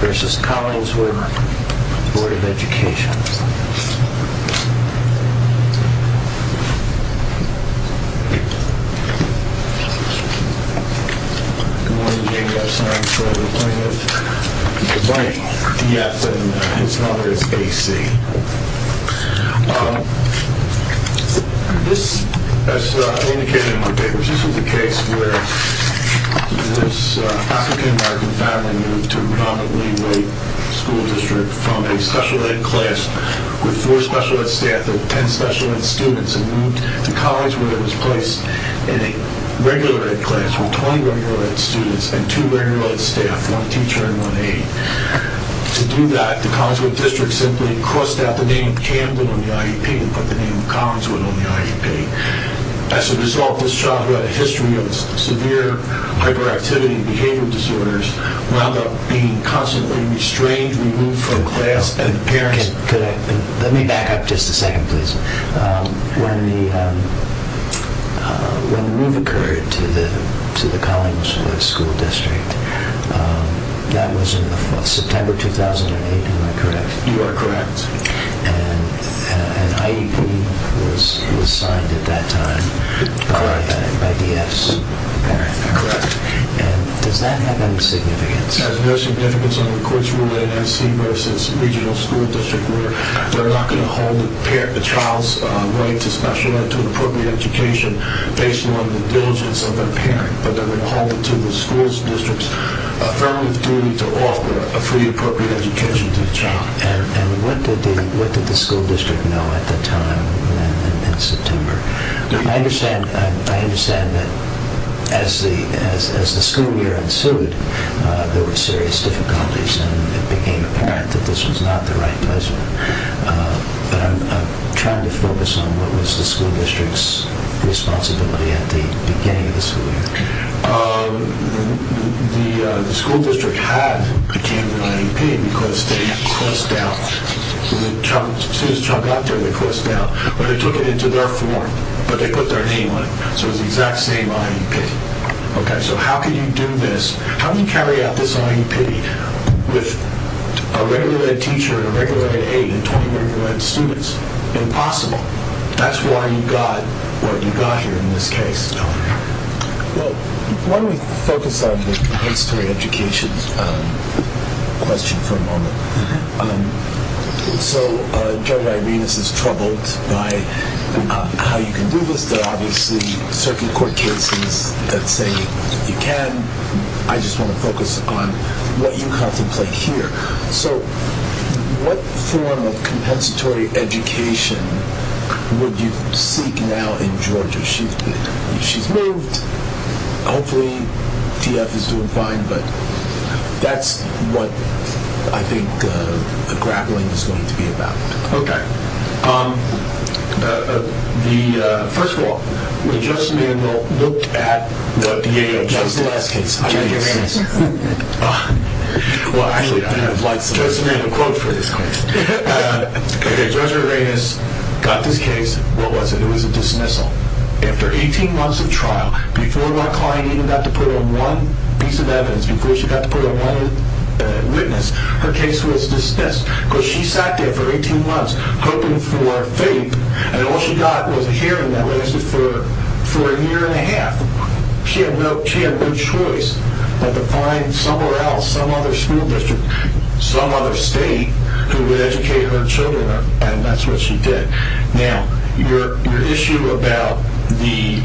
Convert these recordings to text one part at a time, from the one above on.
We had a colleague before that came up with this, checking to see if it's kind of automatic. This, as indicated in the papers, this was a case where this African American family moved to a predominantly white school district from a special ed class with 4 special ed staff and 10 special ed students and moved to a college where it was placed in a regular ed class with 20 regular ed students and 2 regular ed staff, one teacher and one aide. To do that, the Collinswood district simply crossed out the name Camden on the IEP and put the name Collinswood on the IEP. As a result, this child who had a history of severe hyperactivity and behavioral disorders wound up being constantly restrained, removed from class, and the parents... September 2008, am I correct? You are correct. And an IEP was signed at that time by the F's parent. Correct. And does that have any significance? It has no significance under the court's rule in NC versus regional school district where they're not going to hold the child's right to special ed to an appropriate education based on the diligence of their parent. But they're going to hold it to the school district's affirmative duty to offer a fully appropriate education to the child. And what did the school district know at the time in September? I understand that as the school year ensued, there were serious difficulties and it became apparent that this was not the right measure. But I'm trying to focus on what was the school district's responsibility at the beginning of the school year. The school district had a Camden IEP because they had crossed out. As soon as the child got there, they crossed out. But they took it into their form. But they put their name on it. So it was the exact same IEP. Okay, so how can you do this? How can you carry out this IEP with a regular ed teacher, a regular ed aide, and 20 regular ed students? Impossible. That's why you got what you got here in this case. Well, why don't we focus on the compensatory education question for a moment. So, Judge Irenas is troubled by how you can do this. There are obviously certain court cases that say you can. I just want to focus on what you contemplate here. So, what form of compensatory education would you seek now in Georgia? She's moved. Hopefully, DF is doing fine. But that's what I think the grappling is going to be about. Okay. First of all, when Judge Samandel looked at Judge Irenas' case. Judge Irenas. Judge Samandel quote for this case. Judge Irenas got this case. What was it? After 18 months of trial. Before my client even got to put on one piece of evidence. Before she got to put on one witness. Her case was dismissed. Because she sat there for 18 months hoping for faith. And all she got was a hearing that lasted for a year and a half. She had no choice but to find somewhere else. Some other school district. Some other state who would educate her children. And that's what she did. Now, your issue about the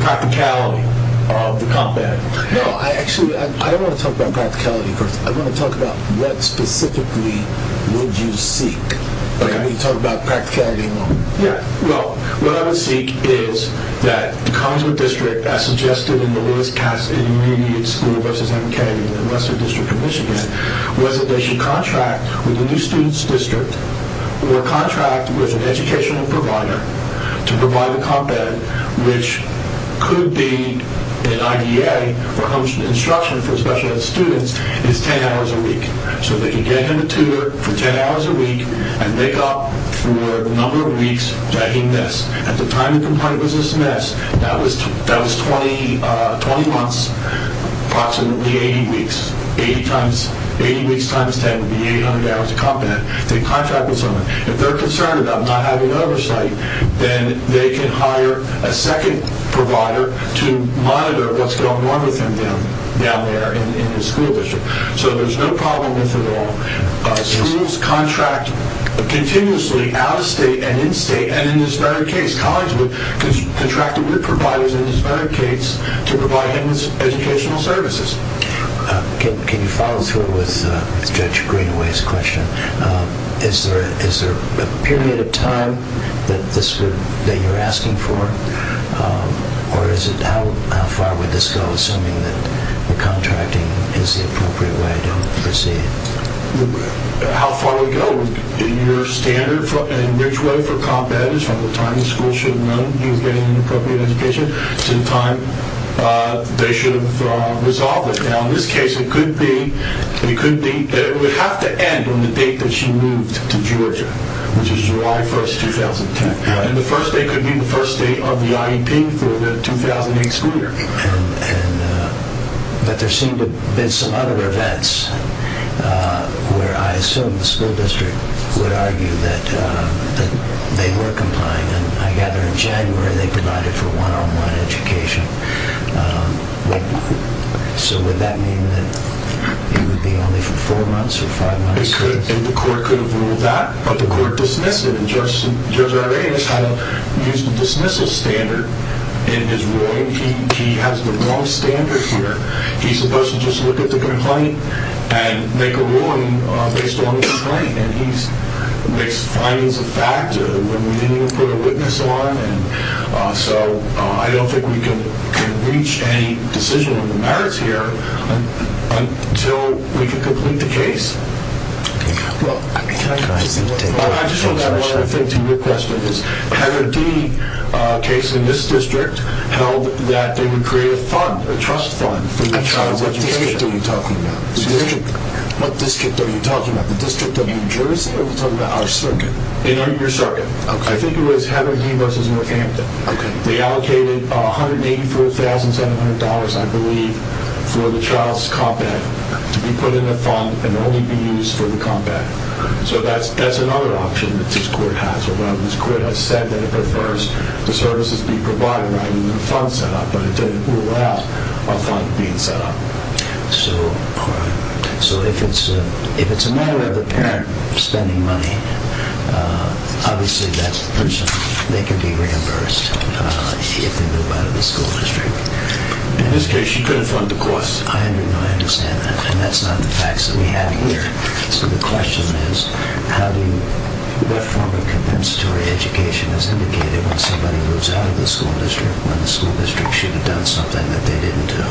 practicality of the compound. No, actually I don't want to talk about practicality first. I want to talk about what specifically would you seek. You talk about practicality. Yeah, well, what I would seek is that the conjugal district as suggested in the Lewis-Katz immediate school versus MK in the Western District of Michigan. Was that they should contract with the new student's district. Or contract with an educational provider to provide the compound. Which could be an IDA for instruction for special ed students. It's 10 hours a week. So they can get him a tutor for 10 hours a week. And make up for the number of weeks that he missed. At the time the complaint was dismissed. That was 20 months. Approximately 80 weeks. 80 weeks times 10 would be 800 hours of compound. So they should contract with someone. If they're concerned about not having oversight. Then they can hire a second provider. To monitor what's going on with him down there in the school district. So there's no problem with it at all. Schools contract continuously out of state and in state. And in this very case. Colleges would contract with providers in this very case. To provide him with educational services. Can you follow through with Judge Greenway's question? Is there a period of time that you're asking for? Or how far would this go? Assuming that the contracting is the appropriate way to proceed. How far would it go? Your standard and which way for compound. Is from the time the school should have known he was getting an inappropriate education. To the time they should have resolved it. Now in this case it could be. It would have to end on the date that she moved to Georgia. Which is July 1st 2010. And the first day could be the first day of the IEP for the 2008 school year. But there seem to have been some other events. Where I assume the school district would argue that they were complying. And I gather in January they provided for one on one education. So would that mean that it would be only for four months or five months? The court could have ruled that. But the court dismissed it. And Judge Arreaz had to use the dismissal standard in his ruling. He has the wrong standard here. He's supposed to just look at the complaint. And make a ruling based on the complaint. And he makes findings of fact. When we didn't even put a witness on. So I don't think we can reach any decision on the merits here. Until we can complete the case. I just want to add one other thing to your question. Heather D case in this district. Held that they would create a fund. A trust fund for each child's education. What district are you talking about? The district of New Jersey or are you talking about our circuit? Your circuit. I think it was Heather D versus Northampton. They allocated $184,700 I believe. For the child's combat. To be put in a fund and only be used for the combat. So that's another option that this court has. This court has said that it prefers the services be provided. Not even a fund set up. But it didn't rule out a fund being set up. So if it's a matter of a parent spending money. Obviously that person. They can be reimbursed. If they move out of the school district. In this case you couldn't fund the cost. I understand that. And that's not the facts that we have here. So the question is. What form of compensatory education is indicated. When somebody moves out of the school district. When the school district should have done something that they didn't do.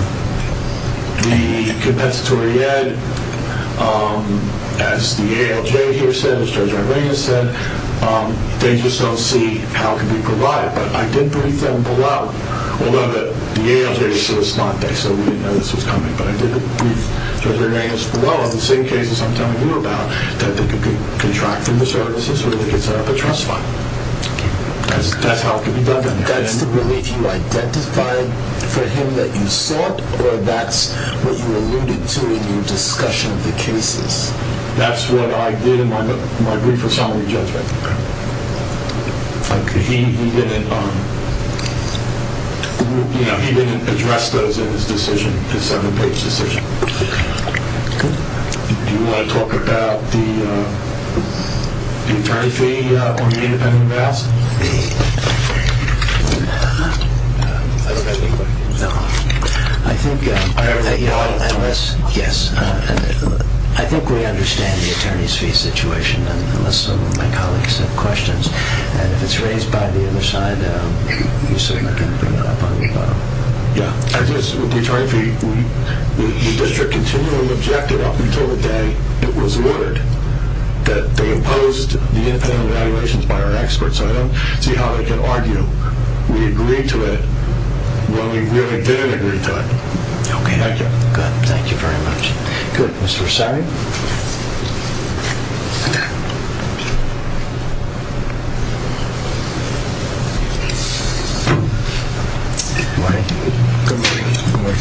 The compensatory ed. As the ALJ here said. As Judge Rodriguez said. They just don't see how it can be provided. But I did brief them below. Although the ALJ is a respondent. So we didn't know this was coming. But I did brief Judge Rodriguez below. On the same cases I'm telling you about. That they could contract from the services. Or they could set up a trust fund. That's how it could be done. That's the relief you identified for him that you sought. Or that's what you alluded to in your discussion of the cases. That's what I did in my brief for summary judgment. He didn't address those in his decision. His seven page decision. Do you want to talk about the attorney fee on the independent amounts? I don't have any questions. No. I think. Yes. I think we understand the attorney's fee situation. Unless some of my colleagues have questions. And if it's raised by the other side. You certainly can bring that up on your file. Yeah. I guess with the attorney fee. The district continually objected up until the day it was ordered. That they imposed the independent evaluations by our experts. So I don't see how they can argue. When we really didn't agree to it. Okay. Thank you. Good. Mr. Rashami. Good morning. Good morning. Good morning.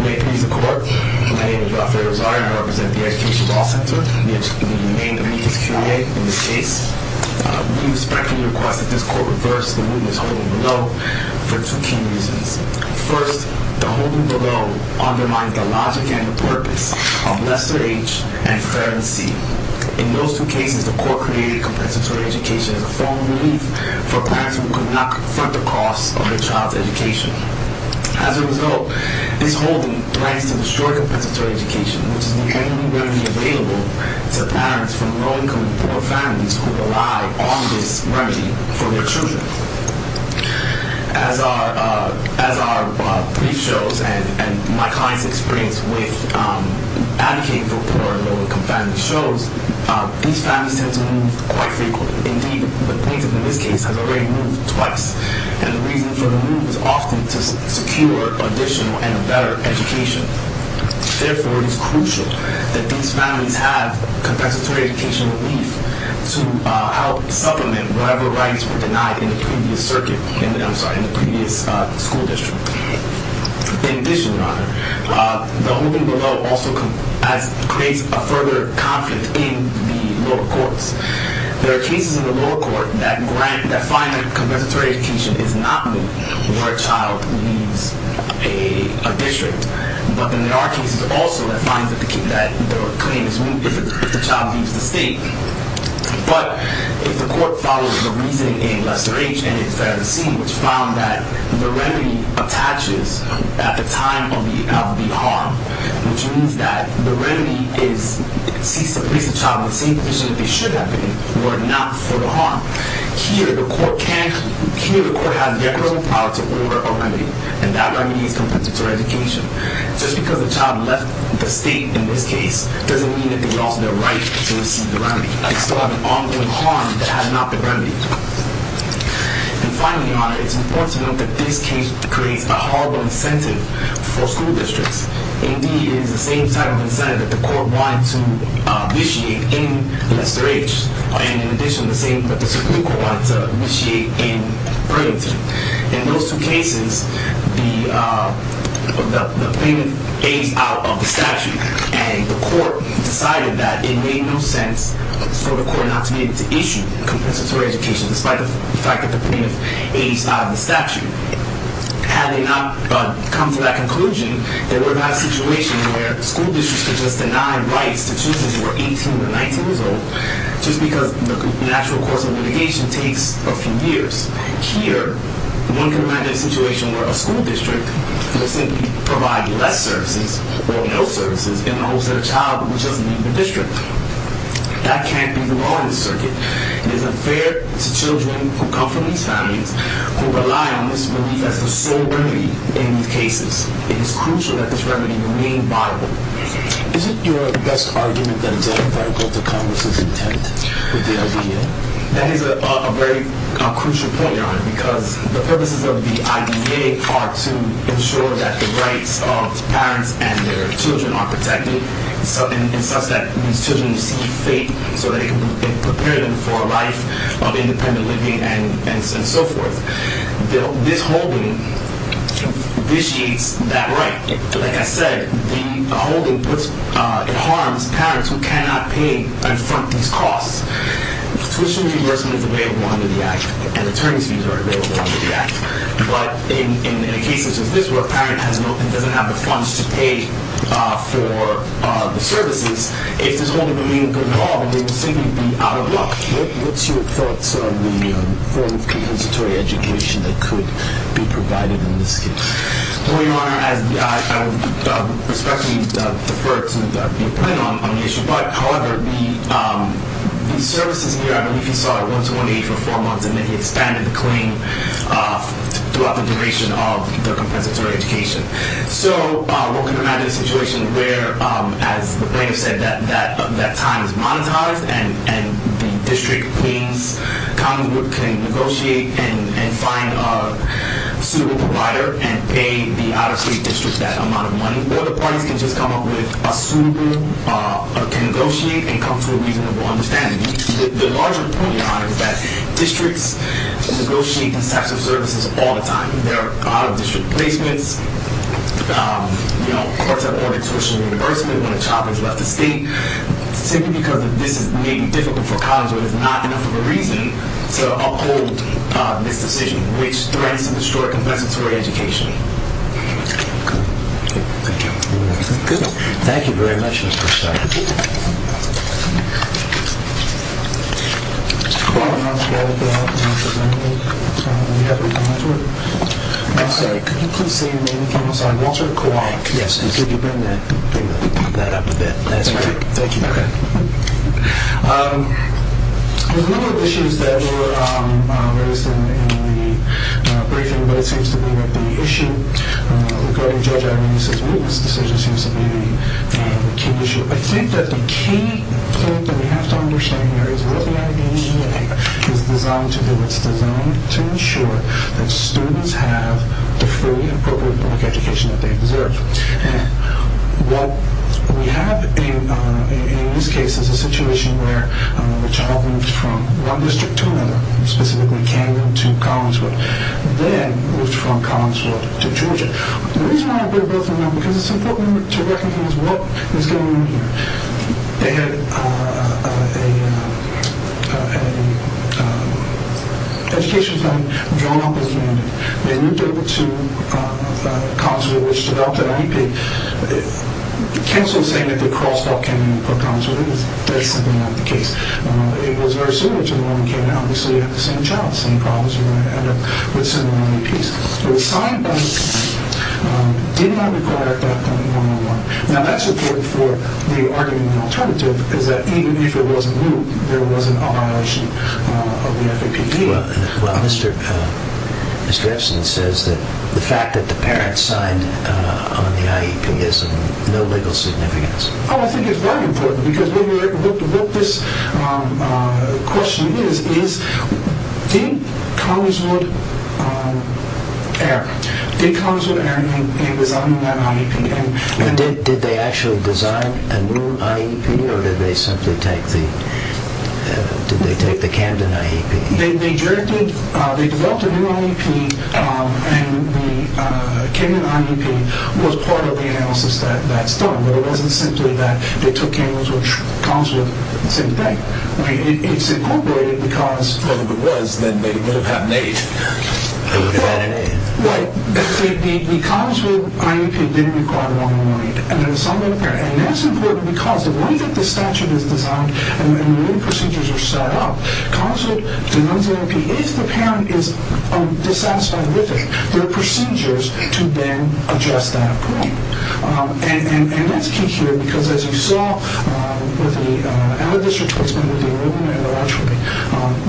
May it please the court. My name is Rafael Razari. I represent the Education Law Center. We remain the meeting's Q&A in this case. We respectfully request that this court reverse the witness holding below for two key reasons. First, the holding below undermines the logic and the purpose of lesser H and fairer C. In those two cases, the court created compensatory education as a form of relief for parents who could not confront the costs of their child's education. As a result, this holding plans to destroy compensatory education, which is the only remedy available to parents from low-income and poor families who rely on this remedy for their children. As our brief shows and my client's experience with advocating for poor and low-income families shows, these families tend to move quite frequently. Indeed, the plaintiff in this case has already moved twice. And the reason for the move is often to secure additional and a better education. Therefore, it is crucial that these families have compensatory education relief to help supplement whatever rights were denied in the previous school district. In addition, Your Honor, the holding below also creates a further conflict in the lower courts. There are cases in the lower court that find that compensatory education is not needed where a child leaves a district. But then there are cases also that find that the claim is moved if the child leaves the state. But if the court follows the reasoning in lesser H and in fairer C, which found that the remedy attaches at the time of the harm, which means that the remedy is to place the child in the same position that they should have been were it not for the harm, here the court has the authority to order a remedy, and that remedy is compensatory education. Just because a child left the state in this case doesn't mean that they lost their right to receive the remedy. They still have an ongoing harm that has not been remedied. And finally, Your Honor, it's important to note that this case creates a horrible incentive for school districts. Indeed, it is the same type of incentive that the court wanted to vitiate in lesser H, and in addition, the same that the Supreme Court wanted to vitiate in fairer C. In those two cases, the plaintiff aged out of the statute, and the court decided that it made no sense for the court not to be able to issue compensatory education, despite the fact that the plaintiff aged out of the statute. Had they not come to that conclusion, there would have been a situation where school districts could just deny rights to children who were 18 or 19 years old, just because the actual course of litigation takes a few years. Here, one could imagine a situation where a school district could simply provide less services or no services in the hopes that a child would just leave the district. That can't be the law in this circuit. It is unfair to children who come from these families, who rely on this belief as the sole remedy in these cases. It is crucial that this remedy remain viable. Isn't your best argument that it's unethical to Congress's intent with the idea? That is a very crucial point, Your Honor, because the purposes of the IDEA are to ensure that the rights of parents and their children are protected, and such that these children receive faith so that it can prepare them for a life of independent living and so forth. This holding vitiates that right. Like I said, the holding harms parents who cannot pay in front of these costs. Tuition reimbursement is available under the Act, and attorney's fees are available under the Act. But in a case such as this, where a parent doesn't have the funds to pay for the services, if there's only the meaning of the law, they would simply be out of luck. What's your thoughts on the form of compensatory education that could be provided in this case? Well, Your Honor, I would respectfully prefer to be plain on the issue. But, however, the services here, I believe you saw it, went to 180 for four months, and then he expanded the claim throughout the duration of the compensatory education. So one can imagine a situation where, as the plaintiff said, that time is monetized, and the district, Queens, common group can negotiate and find a suitable provider and pay the out-of-state district that amount of money. Or the parties can just come up with a suitable, can negotiate and come to a reasonable understanding. The larger point, Your Honor, is that districts negotiate in terms of services all the time. There are out-of-district placements, courts have ordered tuition reimbursement when a child has left the state, simply because this may be difficult for college or there's not enough of a reason to uphold this decision, which threatens to destroy compensatory education. Okay. Thank you. Good. Thank you very much, Mr. Starr. Mr. Starr, could you please say your name again? I'm sorry. Walter Kowalik. Yes. Could you bring that up a bit? That's right. Thank you. Okay. There's a number of issues that were raised in the briefing, but it seems to me that the issue regarding Judge Irene's witness decision seems to be the key issue. I think that the key point that we have to understand here is what the IDEA is designed to do. It's designed to ensure that students have the fully appropriate public education that they deserve. What we have in this case is a situation where a child moved from one district to another, specifically Camden to Collingswood, then moved from Collingswood to Georgia. The reason why I bring both of them up is because it's important to recognize what is going on here. They had an education fund drawn up as a mandate. They moved over to Collingswood, which developed an IP. The council is saying that they crossed off Camden and put Collingswood in. That is simply not the case. It was very similar to the one in Camden. Obviously, you have the same child, same problems. You're going to end up with similar IPs. It was signed by the county. It did not require a 5.111. Now, that's important for the argument in the alternative, is that even if it wasn't moved, there wasn't a violation of the FAPD. Well, Mr. Epstein says that the fact that the parents signed on the IEP is of no legal significance. I think it's very important, because what this question is, is did Collingswood err? Did Collingswood err in designing that IEP? Did they actually design a new IEP, or did they simply take the Camden IEP? They developed a new IEP, and the Camden IEP was part of the analysis that's done. But it wasn't simply that they took Camden, which Collingswood said to take. It's incorporated because... If it was, then they would have had an 8. They would have had an 8. The Collingswood IEP didn't require a 1018. And that's important because the way that the statute is designed, and the way the procedures are set up, Collingswood denies the IEP if the parent is dissatisfied with it. There are procedures to then address that point. And that's key here, because as you saw with the... and the district courtsmen with the enrollment and the archery,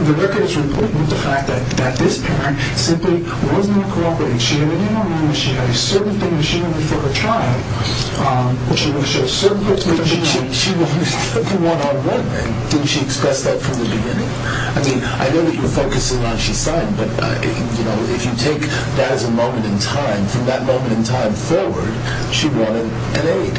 the records were important with the fact that this parent simply was not cooperating. She had a name on hand, and she had a certain thing that she wanted for her child, which she wanted to show certain things... But she wanted the one-on-one thing. Didn't she express that from the beginning? I mean, I know that you're focusing on she signed, but if you take that as a moment in time, from that moment in time forward, she wanted an aid.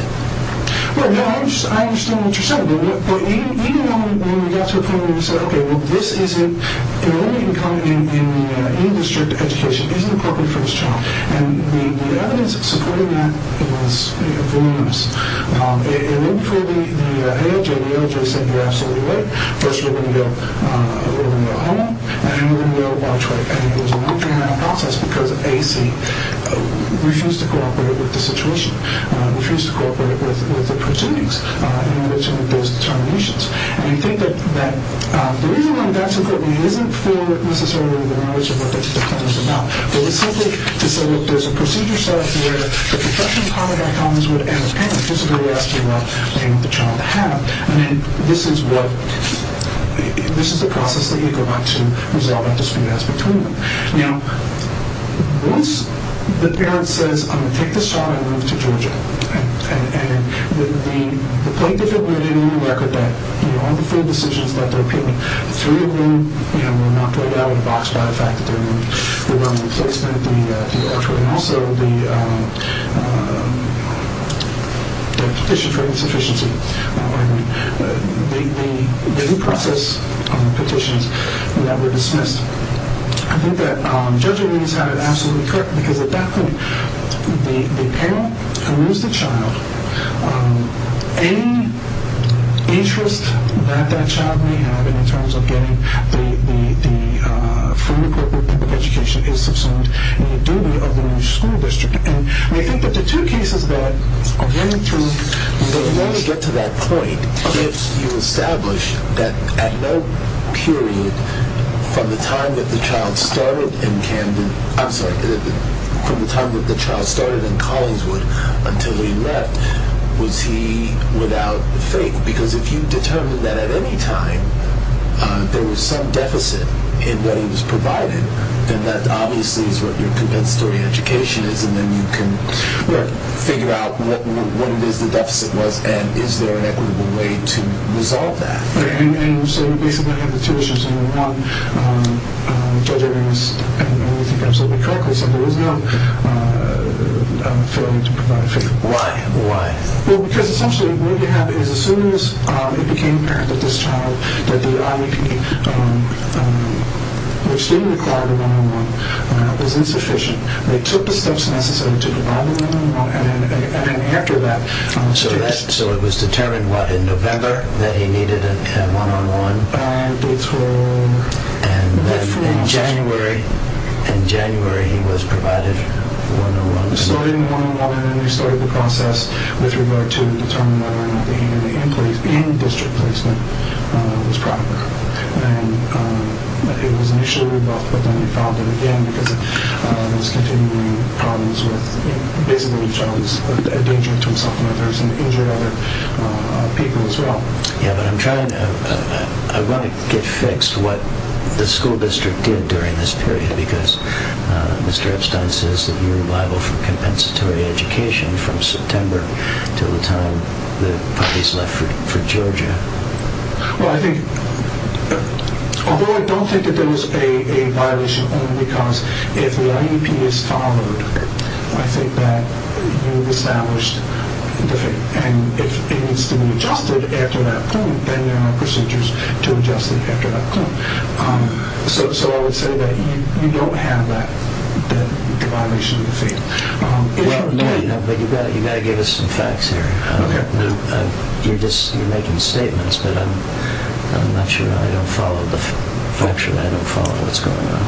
Well, no, I understand what you're saying. Even when we got to a point where we said, okay, well, this isn't... enrollment in any district education isn't appropriate for this child. And the evidence supporting that was voluminous. And then for the ALJ, the ALJ said, you're absolutely right. First, we're going to go home, and then we're going to go watch what happens. And it was a long-term process, because AAC refused to cooperate with the situation, refused to cooperate with the proceedings in relation to those determinations. And I think that the reason why that's important, it isn't for necessarily the knowledge of what this is about, but it's simply to say, look, there's a procedure set up where the construction department at Collinswood and the parents are supposed to be asking what they want the child to have. I mean, this is what... this is the process that you're going to resolve that dispute as between them. Now, once the parent says, I'm going to take this child and move to Georgia, and the plaintiff had made it on the record that, you know, all the full decisions that they're making, the three of them were knocked right out of the box by the fact that there were no replacement, the archer, and also the petition for insufficiency. I mean, the due process petitions that were dismissed. I think that Judge O'Neill has had it absolutely correct, because at that point, the parent can lose the child. Any interest that that child may have in terms of getting the full appropriate public education is subsumed in the duty of the new school district. And I think that the two cases that are going through... But you want to get to that point if you establish that at no period from the time that the child started in Camden... I'm sorry, from the time that the child started in Collinswood until he left, was he without the faith. Because if you determine that at any time, there was some deficit in what he was provided, then that obviously is what your compensatory education is, and then you can figure out what it is the deficit was, and is there an equitable way to resolve that. And so you basically have the two issues. One, Judge O'Neill is doing everything absolutely correctly, so there was no failure to provide faith. Why? Well, because essentially what you have is as soon as it became apparent that this child, that the IEP, which didn't require the one-on-one, was insufficient, they took the steps necessary to provide the one-on-one, and then after that... So it was determined, what, in November that he needed a one-on-one? Dates for... And then in January, in January he was provided one-on-one. He started the one-on-one, and then he started the process with regard to determining whether or not the hand-in-hand placement, in-district placement, was proper. And it was initially rebuffed, but then he filed it again, because he was continuing problems with... Basically, the child was a danger to himself and others, and injured other people as well. Yeah, but I'm trying to... I want to get fixed what the school district did during this period, because Mr. Epstein says that your revival from compensatory education from September to the time the puppies left for Georgia... Well, I think... Although I don't think that there was a violation, only because if the IEP is followed, I think that you've established defeat. And if it needs to be adjusted after that point, then there are procedures to adjust it after that point. the violation of defeat. Well, no, but you've got to give us some facts here. You're making statements, but I'm not sure I don't follow... Factually, I don't follow what's going on.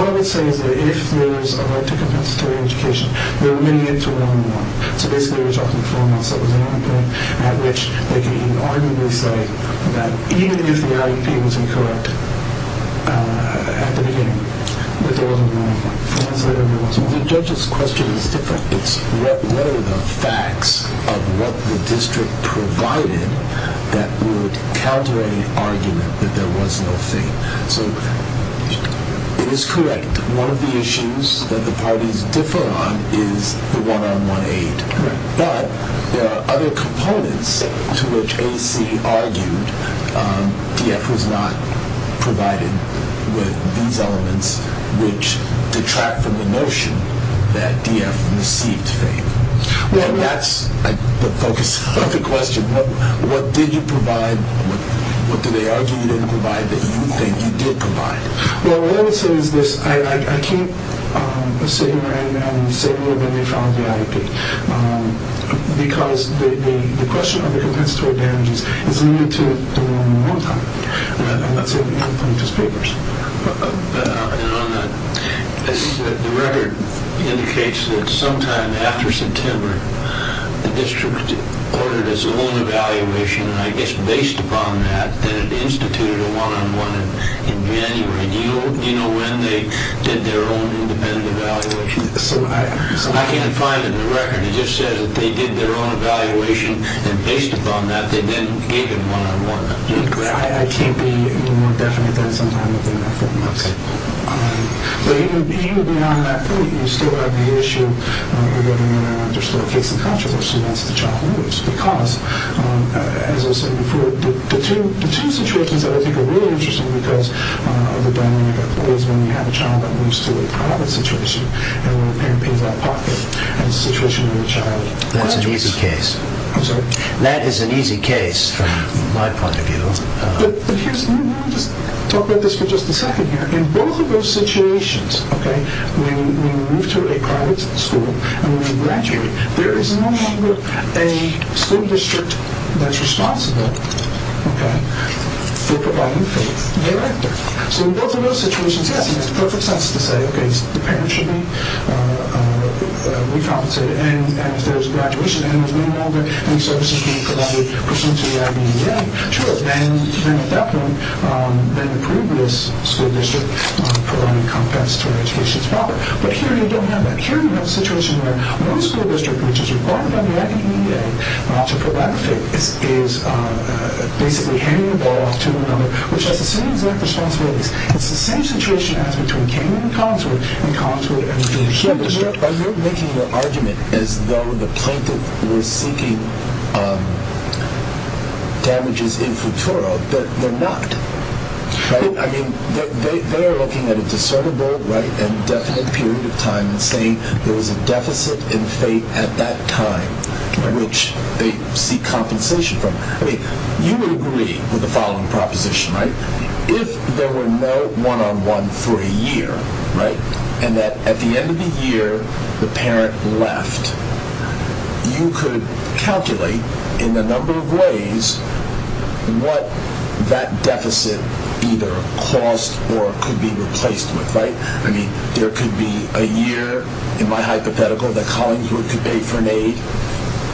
What I would say is that if there was a right to compensatory education, there were many years of one-on-one. So basically, there was often four months that there was a hand-in-hand, at which they could unarguably say that even if the IEP was incorrect at the beginning, that there wasn't a one-on-one. The judge's question is different. It's what are the facts of what the district provided that would counter any argument that there was no fate? So it is correct. One of the issues that the parties differ on is the one-on-one aid. But there are other components to which AC argued DF was not provided with these elements which detract from the notion that DF received fate. And that's the focus of the question. What did you provide? What did they argue you didn't provide that you think you did provide? Well, what I would say is this. I can't sit here and say more than they found the IEP because the question of the compensatory damages is limited to the one-on-one type. I'm not saying we can't find those papers. And on that, the record indicates that sometime after September the district ordered its own evaluation, and I guess based upon that, that it instituted a one-on-one in January. Do you know when they did their own independent evaluation? I can't find it in the record. It just says that they did their own evaluation, and based upon that, they then gave it one-on-one. I can't be more definite than sometime within a fortnight. But even beyond that point, you still have the issue of whether or not there's still a case of controversy as to the child who moves. Because, as I said before, the two situations that I think are really interesting because of the dynamic of it is when you have a child that moves to a private situation and when a parent pays that pocket and the situation of the child... That's an easy case. That is an easy case from my point of view. But let me just talk about this for just a second here. In both of those situations, when you move to a private school and when you graduate, there is no longer a school district that's responsible for providing for the director. So in both of those situations, yes, he has perfect sense to say the parent should be recompensated, and if there's a graduation then the services should be provided pursuant to the IDEA. Sure, then at that point, then the previous school district provided compensatory education proper. But here you don't have that. Here you have a situation where no school district which is required by the IDEA to provide a fit is basically handing the ball off to another which has the same exact responsibilities. It's the same situation as between Kenyon and Collingswood and Collingswood and... Are you making your argument that there could be damages in futuro? They're not. They're looking at a discernible and definite period of time and saying there was a deficit in fate at that time which they seek compensation from. You would agree with the following proposition. If there were no one-on-one for a year and that at the end of the year the parent left, you could calculate in a number of ways what that deficit either caused or could be replaced with, right? I mean, there could be a year in my hypothetical that Collingswood could pay for an aid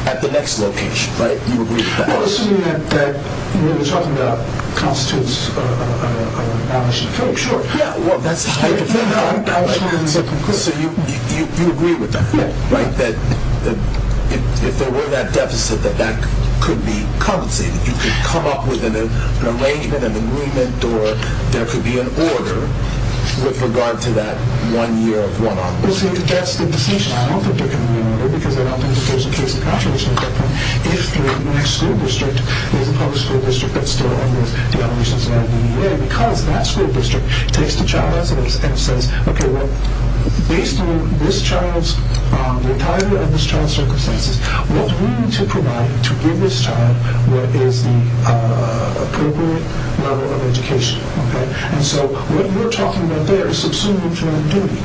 at the next location, right? You agree with that? Well, isn't it that what you're talking about constitutes a malnation? Sure, yeah. That's the hypothetical. So you agree with that, right? That if there were that deficit that that could be compensated. You could come up with an arrangement, an agreement, or there could be an order with regard to that one year of one-on-one. Well, see, that's the decision. I don't think there can be an order because I don't think there's a case of calculation at that point if the next school district is a public school district that still under the obligations of the IDEA because that school district takes the child as it is and says, okay, well, based on this child's retirement and this child's circumstances, what do we need to provide to give this child what is the appropriate level of education? Okay? And so what you're talking about there is subsuming from activity.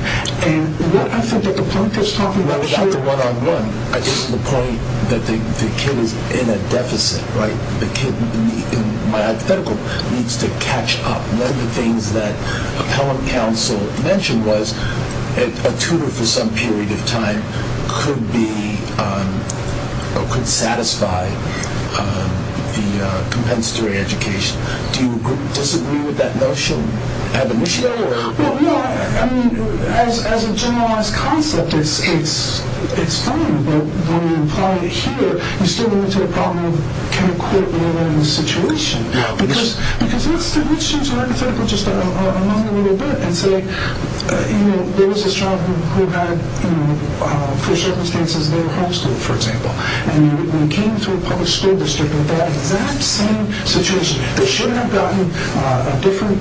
And what I think that the point that's talking about here is not the one-on-one. I think the point that the kid is in a deficit, right? And what the appellate counsel mentioned was a tutor for some period of time could be, or could satisfy the compensatory education. Do you disagree with that notion? Ab initio? Well, no, I mean, as a generalized concept, it's fine, but when you apply it here, you still run into the problem of can a court rule out a situation? Because let's change the hypothetical just a little bit and say, you know, there was this child who had, for circumstances, no homeschool, for example. And you came to a public school district with that exact same situation. They should have gotten a different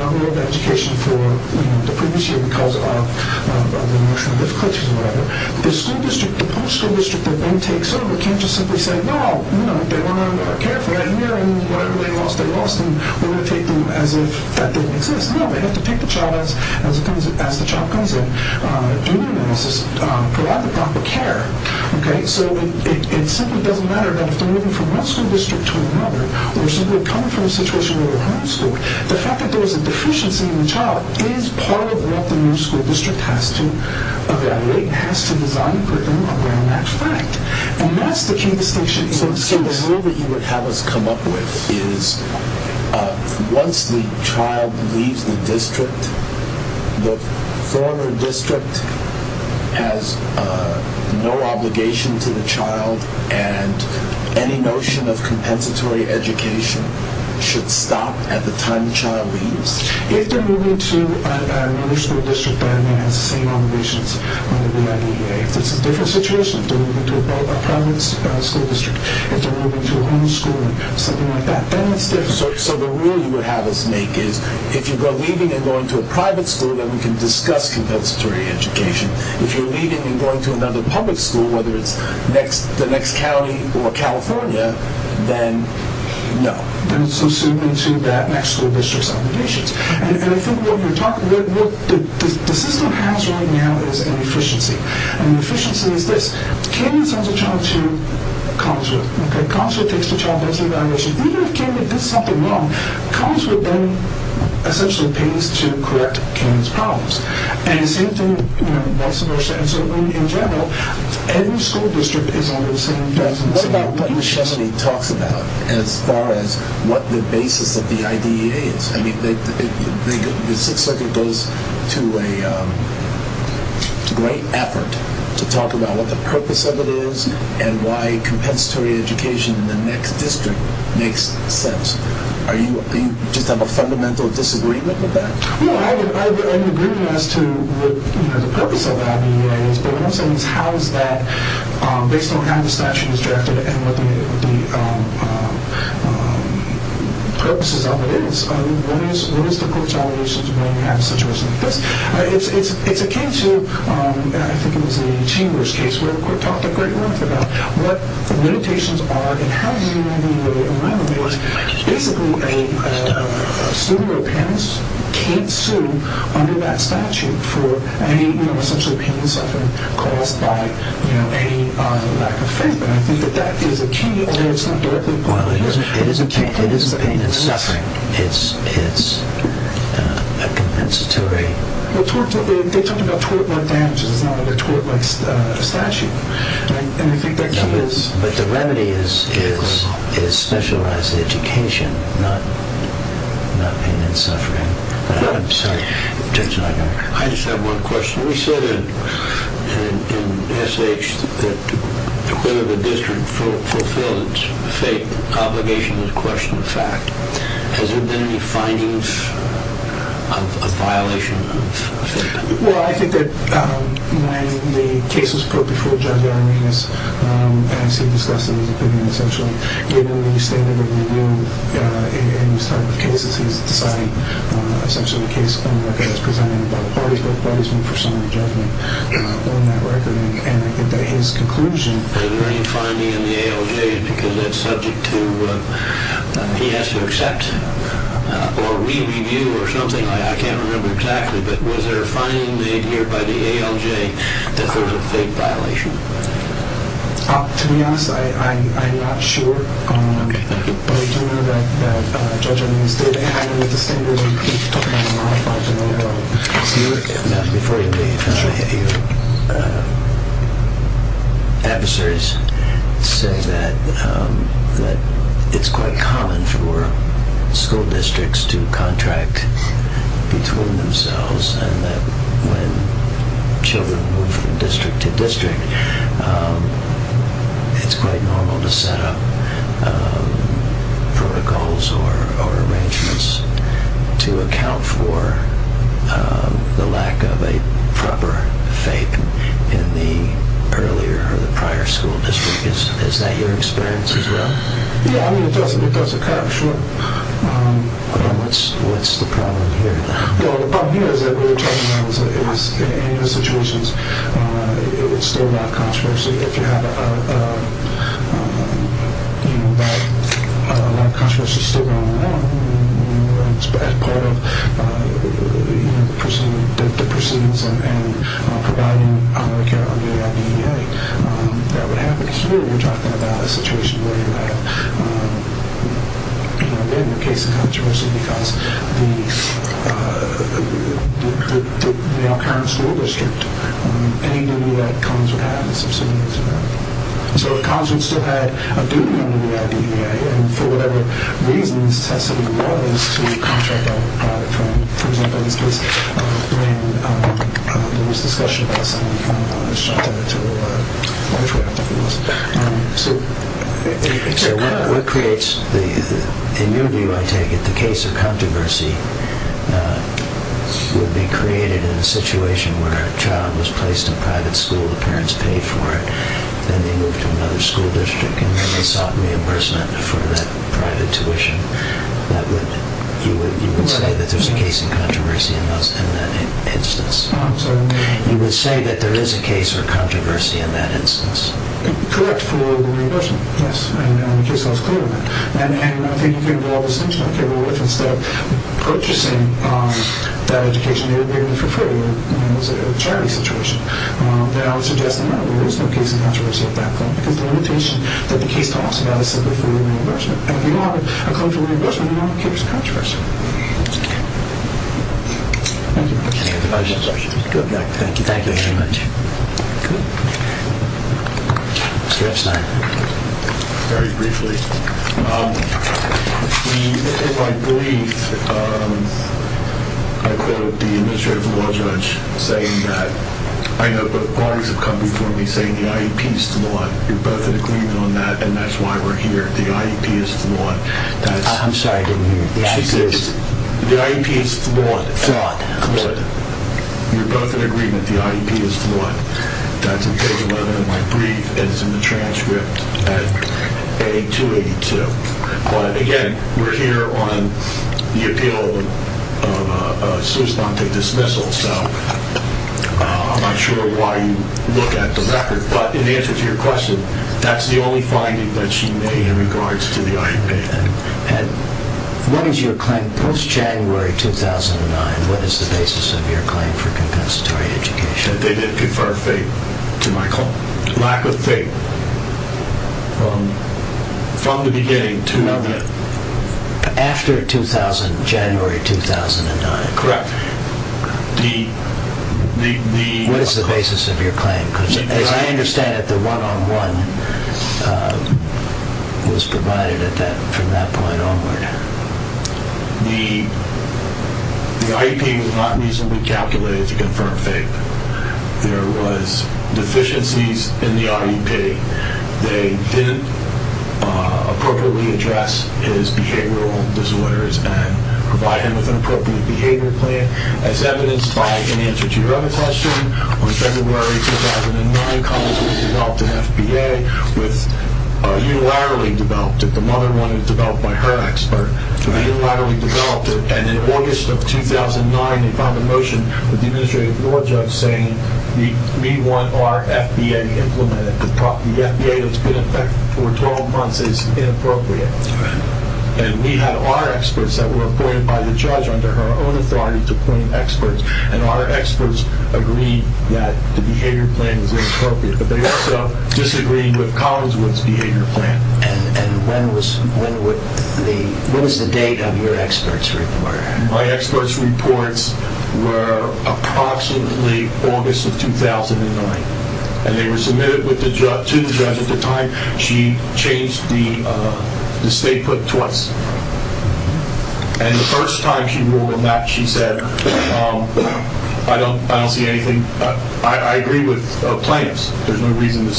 level of education for the previous year because of the emotional difficulties or whatever. The school district, the public school district doesn't care if they lost their lost and we're going to take them as if that didn't exist. No, they have to pick the child as the child comes in and provide the proper care. Okay, so it simply doesn't matter that if they're moving from one school district to another or simply coming from a situation where they're homeschooled, the fact that there's a deficiency in the child is part of what the new school district has to evaluate, because once the child leaves the district, the former district has no obligation to the child and any notion of compensatory education should stop at the time the child leaves. If they're moving to another school district that has the same obligations under the IDEA, if it's a different situation, if they're moving to a different school district, so the rule you would have us make is if you're leaving and going to a private school, then we can discuss compensatory education. If you're leaving and going to another public school, whether it's the next county or California, then no. Then it's assumed that the next school district has obligations. And I think what the system does when it does something wrong comes with then essentially pains to correct kids' problems. And the same thing most of our students are doing in general, every school district is under the same obligation. What about what Nishemany talks about as far as what the basis of the IDEA is? The Sixth Circuit goes to a great effort to talk about what the purpose of it is and why compensatory education in the next district makes sense. Do you just have a fundamental disagreement with that? No, I'm in agreement as to what the purpose of the IDEA is. But what I'm saying is how is that based on how the statute is directed and what the purposes of it is. What is the court's obligation to when you have a situation like this? It's akin to I think it was a Chambers case where the court talked a great length about what limitations are and how you in my opinion is basically a student or a parent can't sue under that statute for any essentially pain and suffering caused by a lack of faith. And I think that that is a key although it's not directly related. It isn't pain and suffering. It's a compensatory They talk about tort-like damages it's not a tort-like statute. And I think that But the remedy is specialized education not pain and suffering. I just have one question. We said in SH that whether the district fulfills faith obligation is a question of fact. Has there been any findings of a violation of faith? Well I think that when the case was put before Judge Araminas as he discussed in his opinion essentially given the standard of review in these type of cases he's decided essentially the case on the record is presented by the parties both parties mean for summary judgment on that record and I think that his conclusion Is there any finding in the ALJ because that's subject to he has to accept or re-review or something I can't remember exactly but was there a finding made here by the ALJ that there was a faith violation? To be honest I'm not sure but I do know that Judge Araminas did have in his opinion a modification of the standard of review. Before you leave I want to hear your adversaries say that it's quite common for school districts to contract between themselves and that when children move from district to district it's quite normal to set up protocols or arrangements to account for the lack of a proper faith in the earlier or the prior school district. Is that your experience as well? Yeah I mean it does occur sure What's the problem here? The problem here is that in any of the situations it's still a lot of controversy if you have a lot of controversy still going on as part of the proceedings and providing public care to the school district that would happen here. We're talking about a situation where you have again a case of controversy because the our current school district any new that comes would have a substantial impact. So the college would still have a duty under the IDEA and for whatever reasons it has to do what it is to contract a private loan. For example in this case there was discussion about something from a child to a contract if it was. So what creates in your view I take it the case of controversy would be created in a situation where a private loan would be a case of controversy in that instance. You would say that there is a case of controversy in that instance. Correct for reimbursement yes. And in the case I was clear on that. And I think you can draw a distinction instead of purchasing that education for free. It was a charity situation. I would suggest there is no case of controversy in that case. The limitation the case talks about is simply reimbursement. If you want a loan for reimbursement you want a case of controversy. Any other questions? Thank you very much. Very briefly. In my belief I quote the administrative law judge saying that I know parties have come before me saying the IEP is flawed. You are both in agreement on that and that's why we are here. The IEP is flawed. I'm sorry. The IEP is flawed. You are both in agreement the IEP is flawed. That's in page 11 of my brief and it's in the transcript at A282. Again, we are here on the appeal of a sus ponte dismissal. I am not sure why you look at the IEP and the imagination I did at this time. The IEP is I'm not sure why you are here on the beginning of hearing. The IEP is flawed. It's not reasonable to say that from that point onward. The IEP was not reasonably calculated to confirm FAPE. There was deficiencies in the IEP. They didn't appropriately address his behavioral disorders and provide him with an appropriate behavior plan as evidenced by an answer to your other question. In August 2009 they found a motion saying we want our FBA implemented. The FBA was appointed by the judge under her own authority to appoint experts. Our experts agreed that the behavior plan was inappropriate but disagreed with Collinswood's behavior plan. My experts reports were approximately August 2009. And they were submitted to the judge at the time. She changed the state put twice. And the first time she ruled on that she said I don't see anything I agree with plans. There's no reason to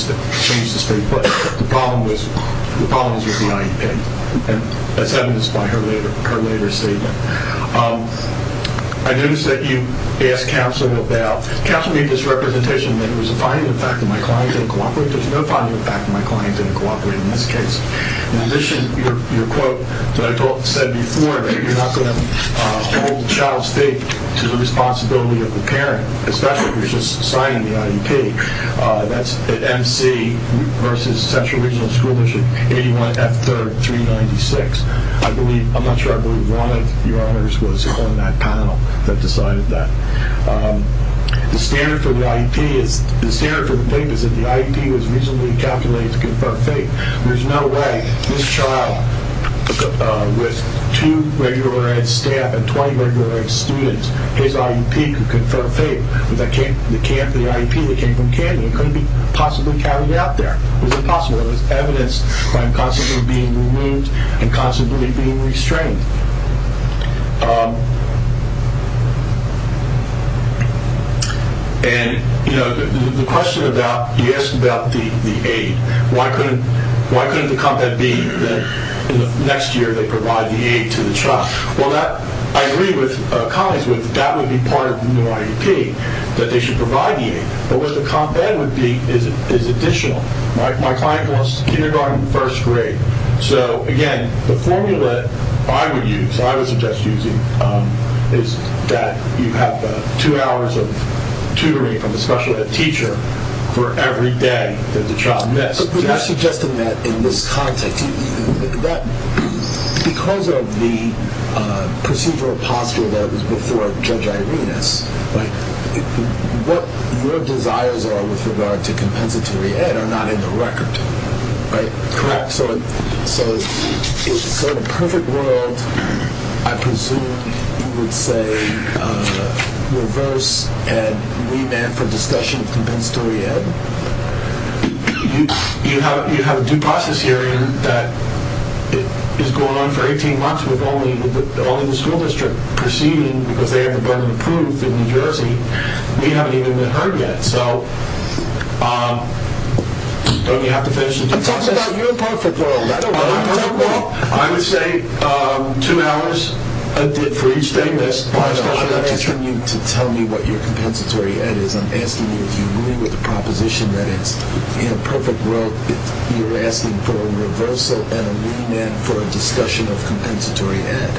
change the state put The judge said I don't with The judge said I don't see anything I agree with plans. The judge said I don't see anything I agree with the plan. There's state put plan. And the judge said I don't with plans. The judge said I don't with plans. I don't agree with plan. The judge there's no plan. And the question about the aid was why couldn't it be next year. I agree with colleagues would that be part of the IEP. The plan is additional. My client in first grade. So again, the formula I would use is that you have two hours of tutoring from a special ed teacher for every day that the child missed. You're suggesting that in this context because of the procedural posture before judge Irenas, what your desires are with regard to compensatory ed are not in the record. So the perfect world I presume you would say reverse and remand for discussion of compensatory ed. You have a due process hearing that is going on for 18 months with only the school district proceeding because they have the burden of proof in New Jersey. We haven't even been heard yet. So don't you have to finish the due process? I'm talking about your perfect world. I would say two hours for each day. I'm asking you to tell me what your compensatory ed is. I'm asking you if you agree with the proposition that it's in a perfect world you're asking for a reversal and a remand for a discussion of compensatory ed.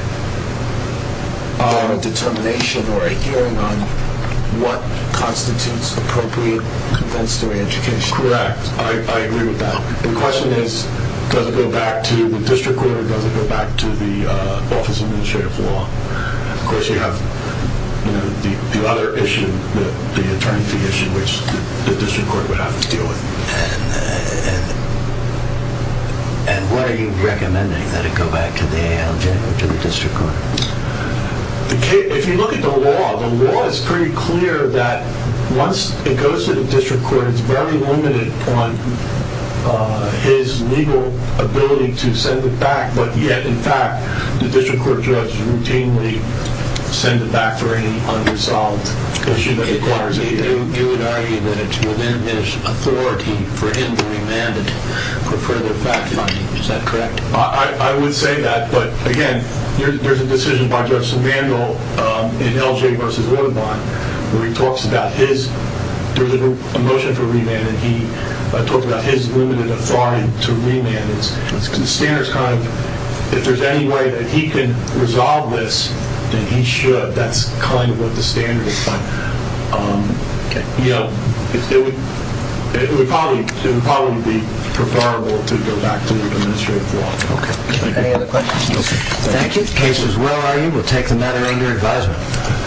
A determination or a hearing on what constitutes appropriate compensatory education. Correct. I agree with that. The question is does it go back to the district court or does it go back to the office of administrative law? Of course you have the other issue, the attorney fee issue, which the district court would have to deal with. And what are you doing with I'm asking you if you agree with proposition that it's in a perfect world you're asking for a reversal and a hearing on what constitutes appropriate education. Correct. I agree with that. The question is does it go back district does it to the office of law? Of course you have the other issue, the attorney fee issue, which the district court would have to deal with and I'm if you agree with proposition it's asking for a reversal and a hearing on what constitutes appropriate education. Correct. I agree with that. The question is does it go back attorney fee issue, which the district court would have to deal with and I'm if you agree with proposition it's asking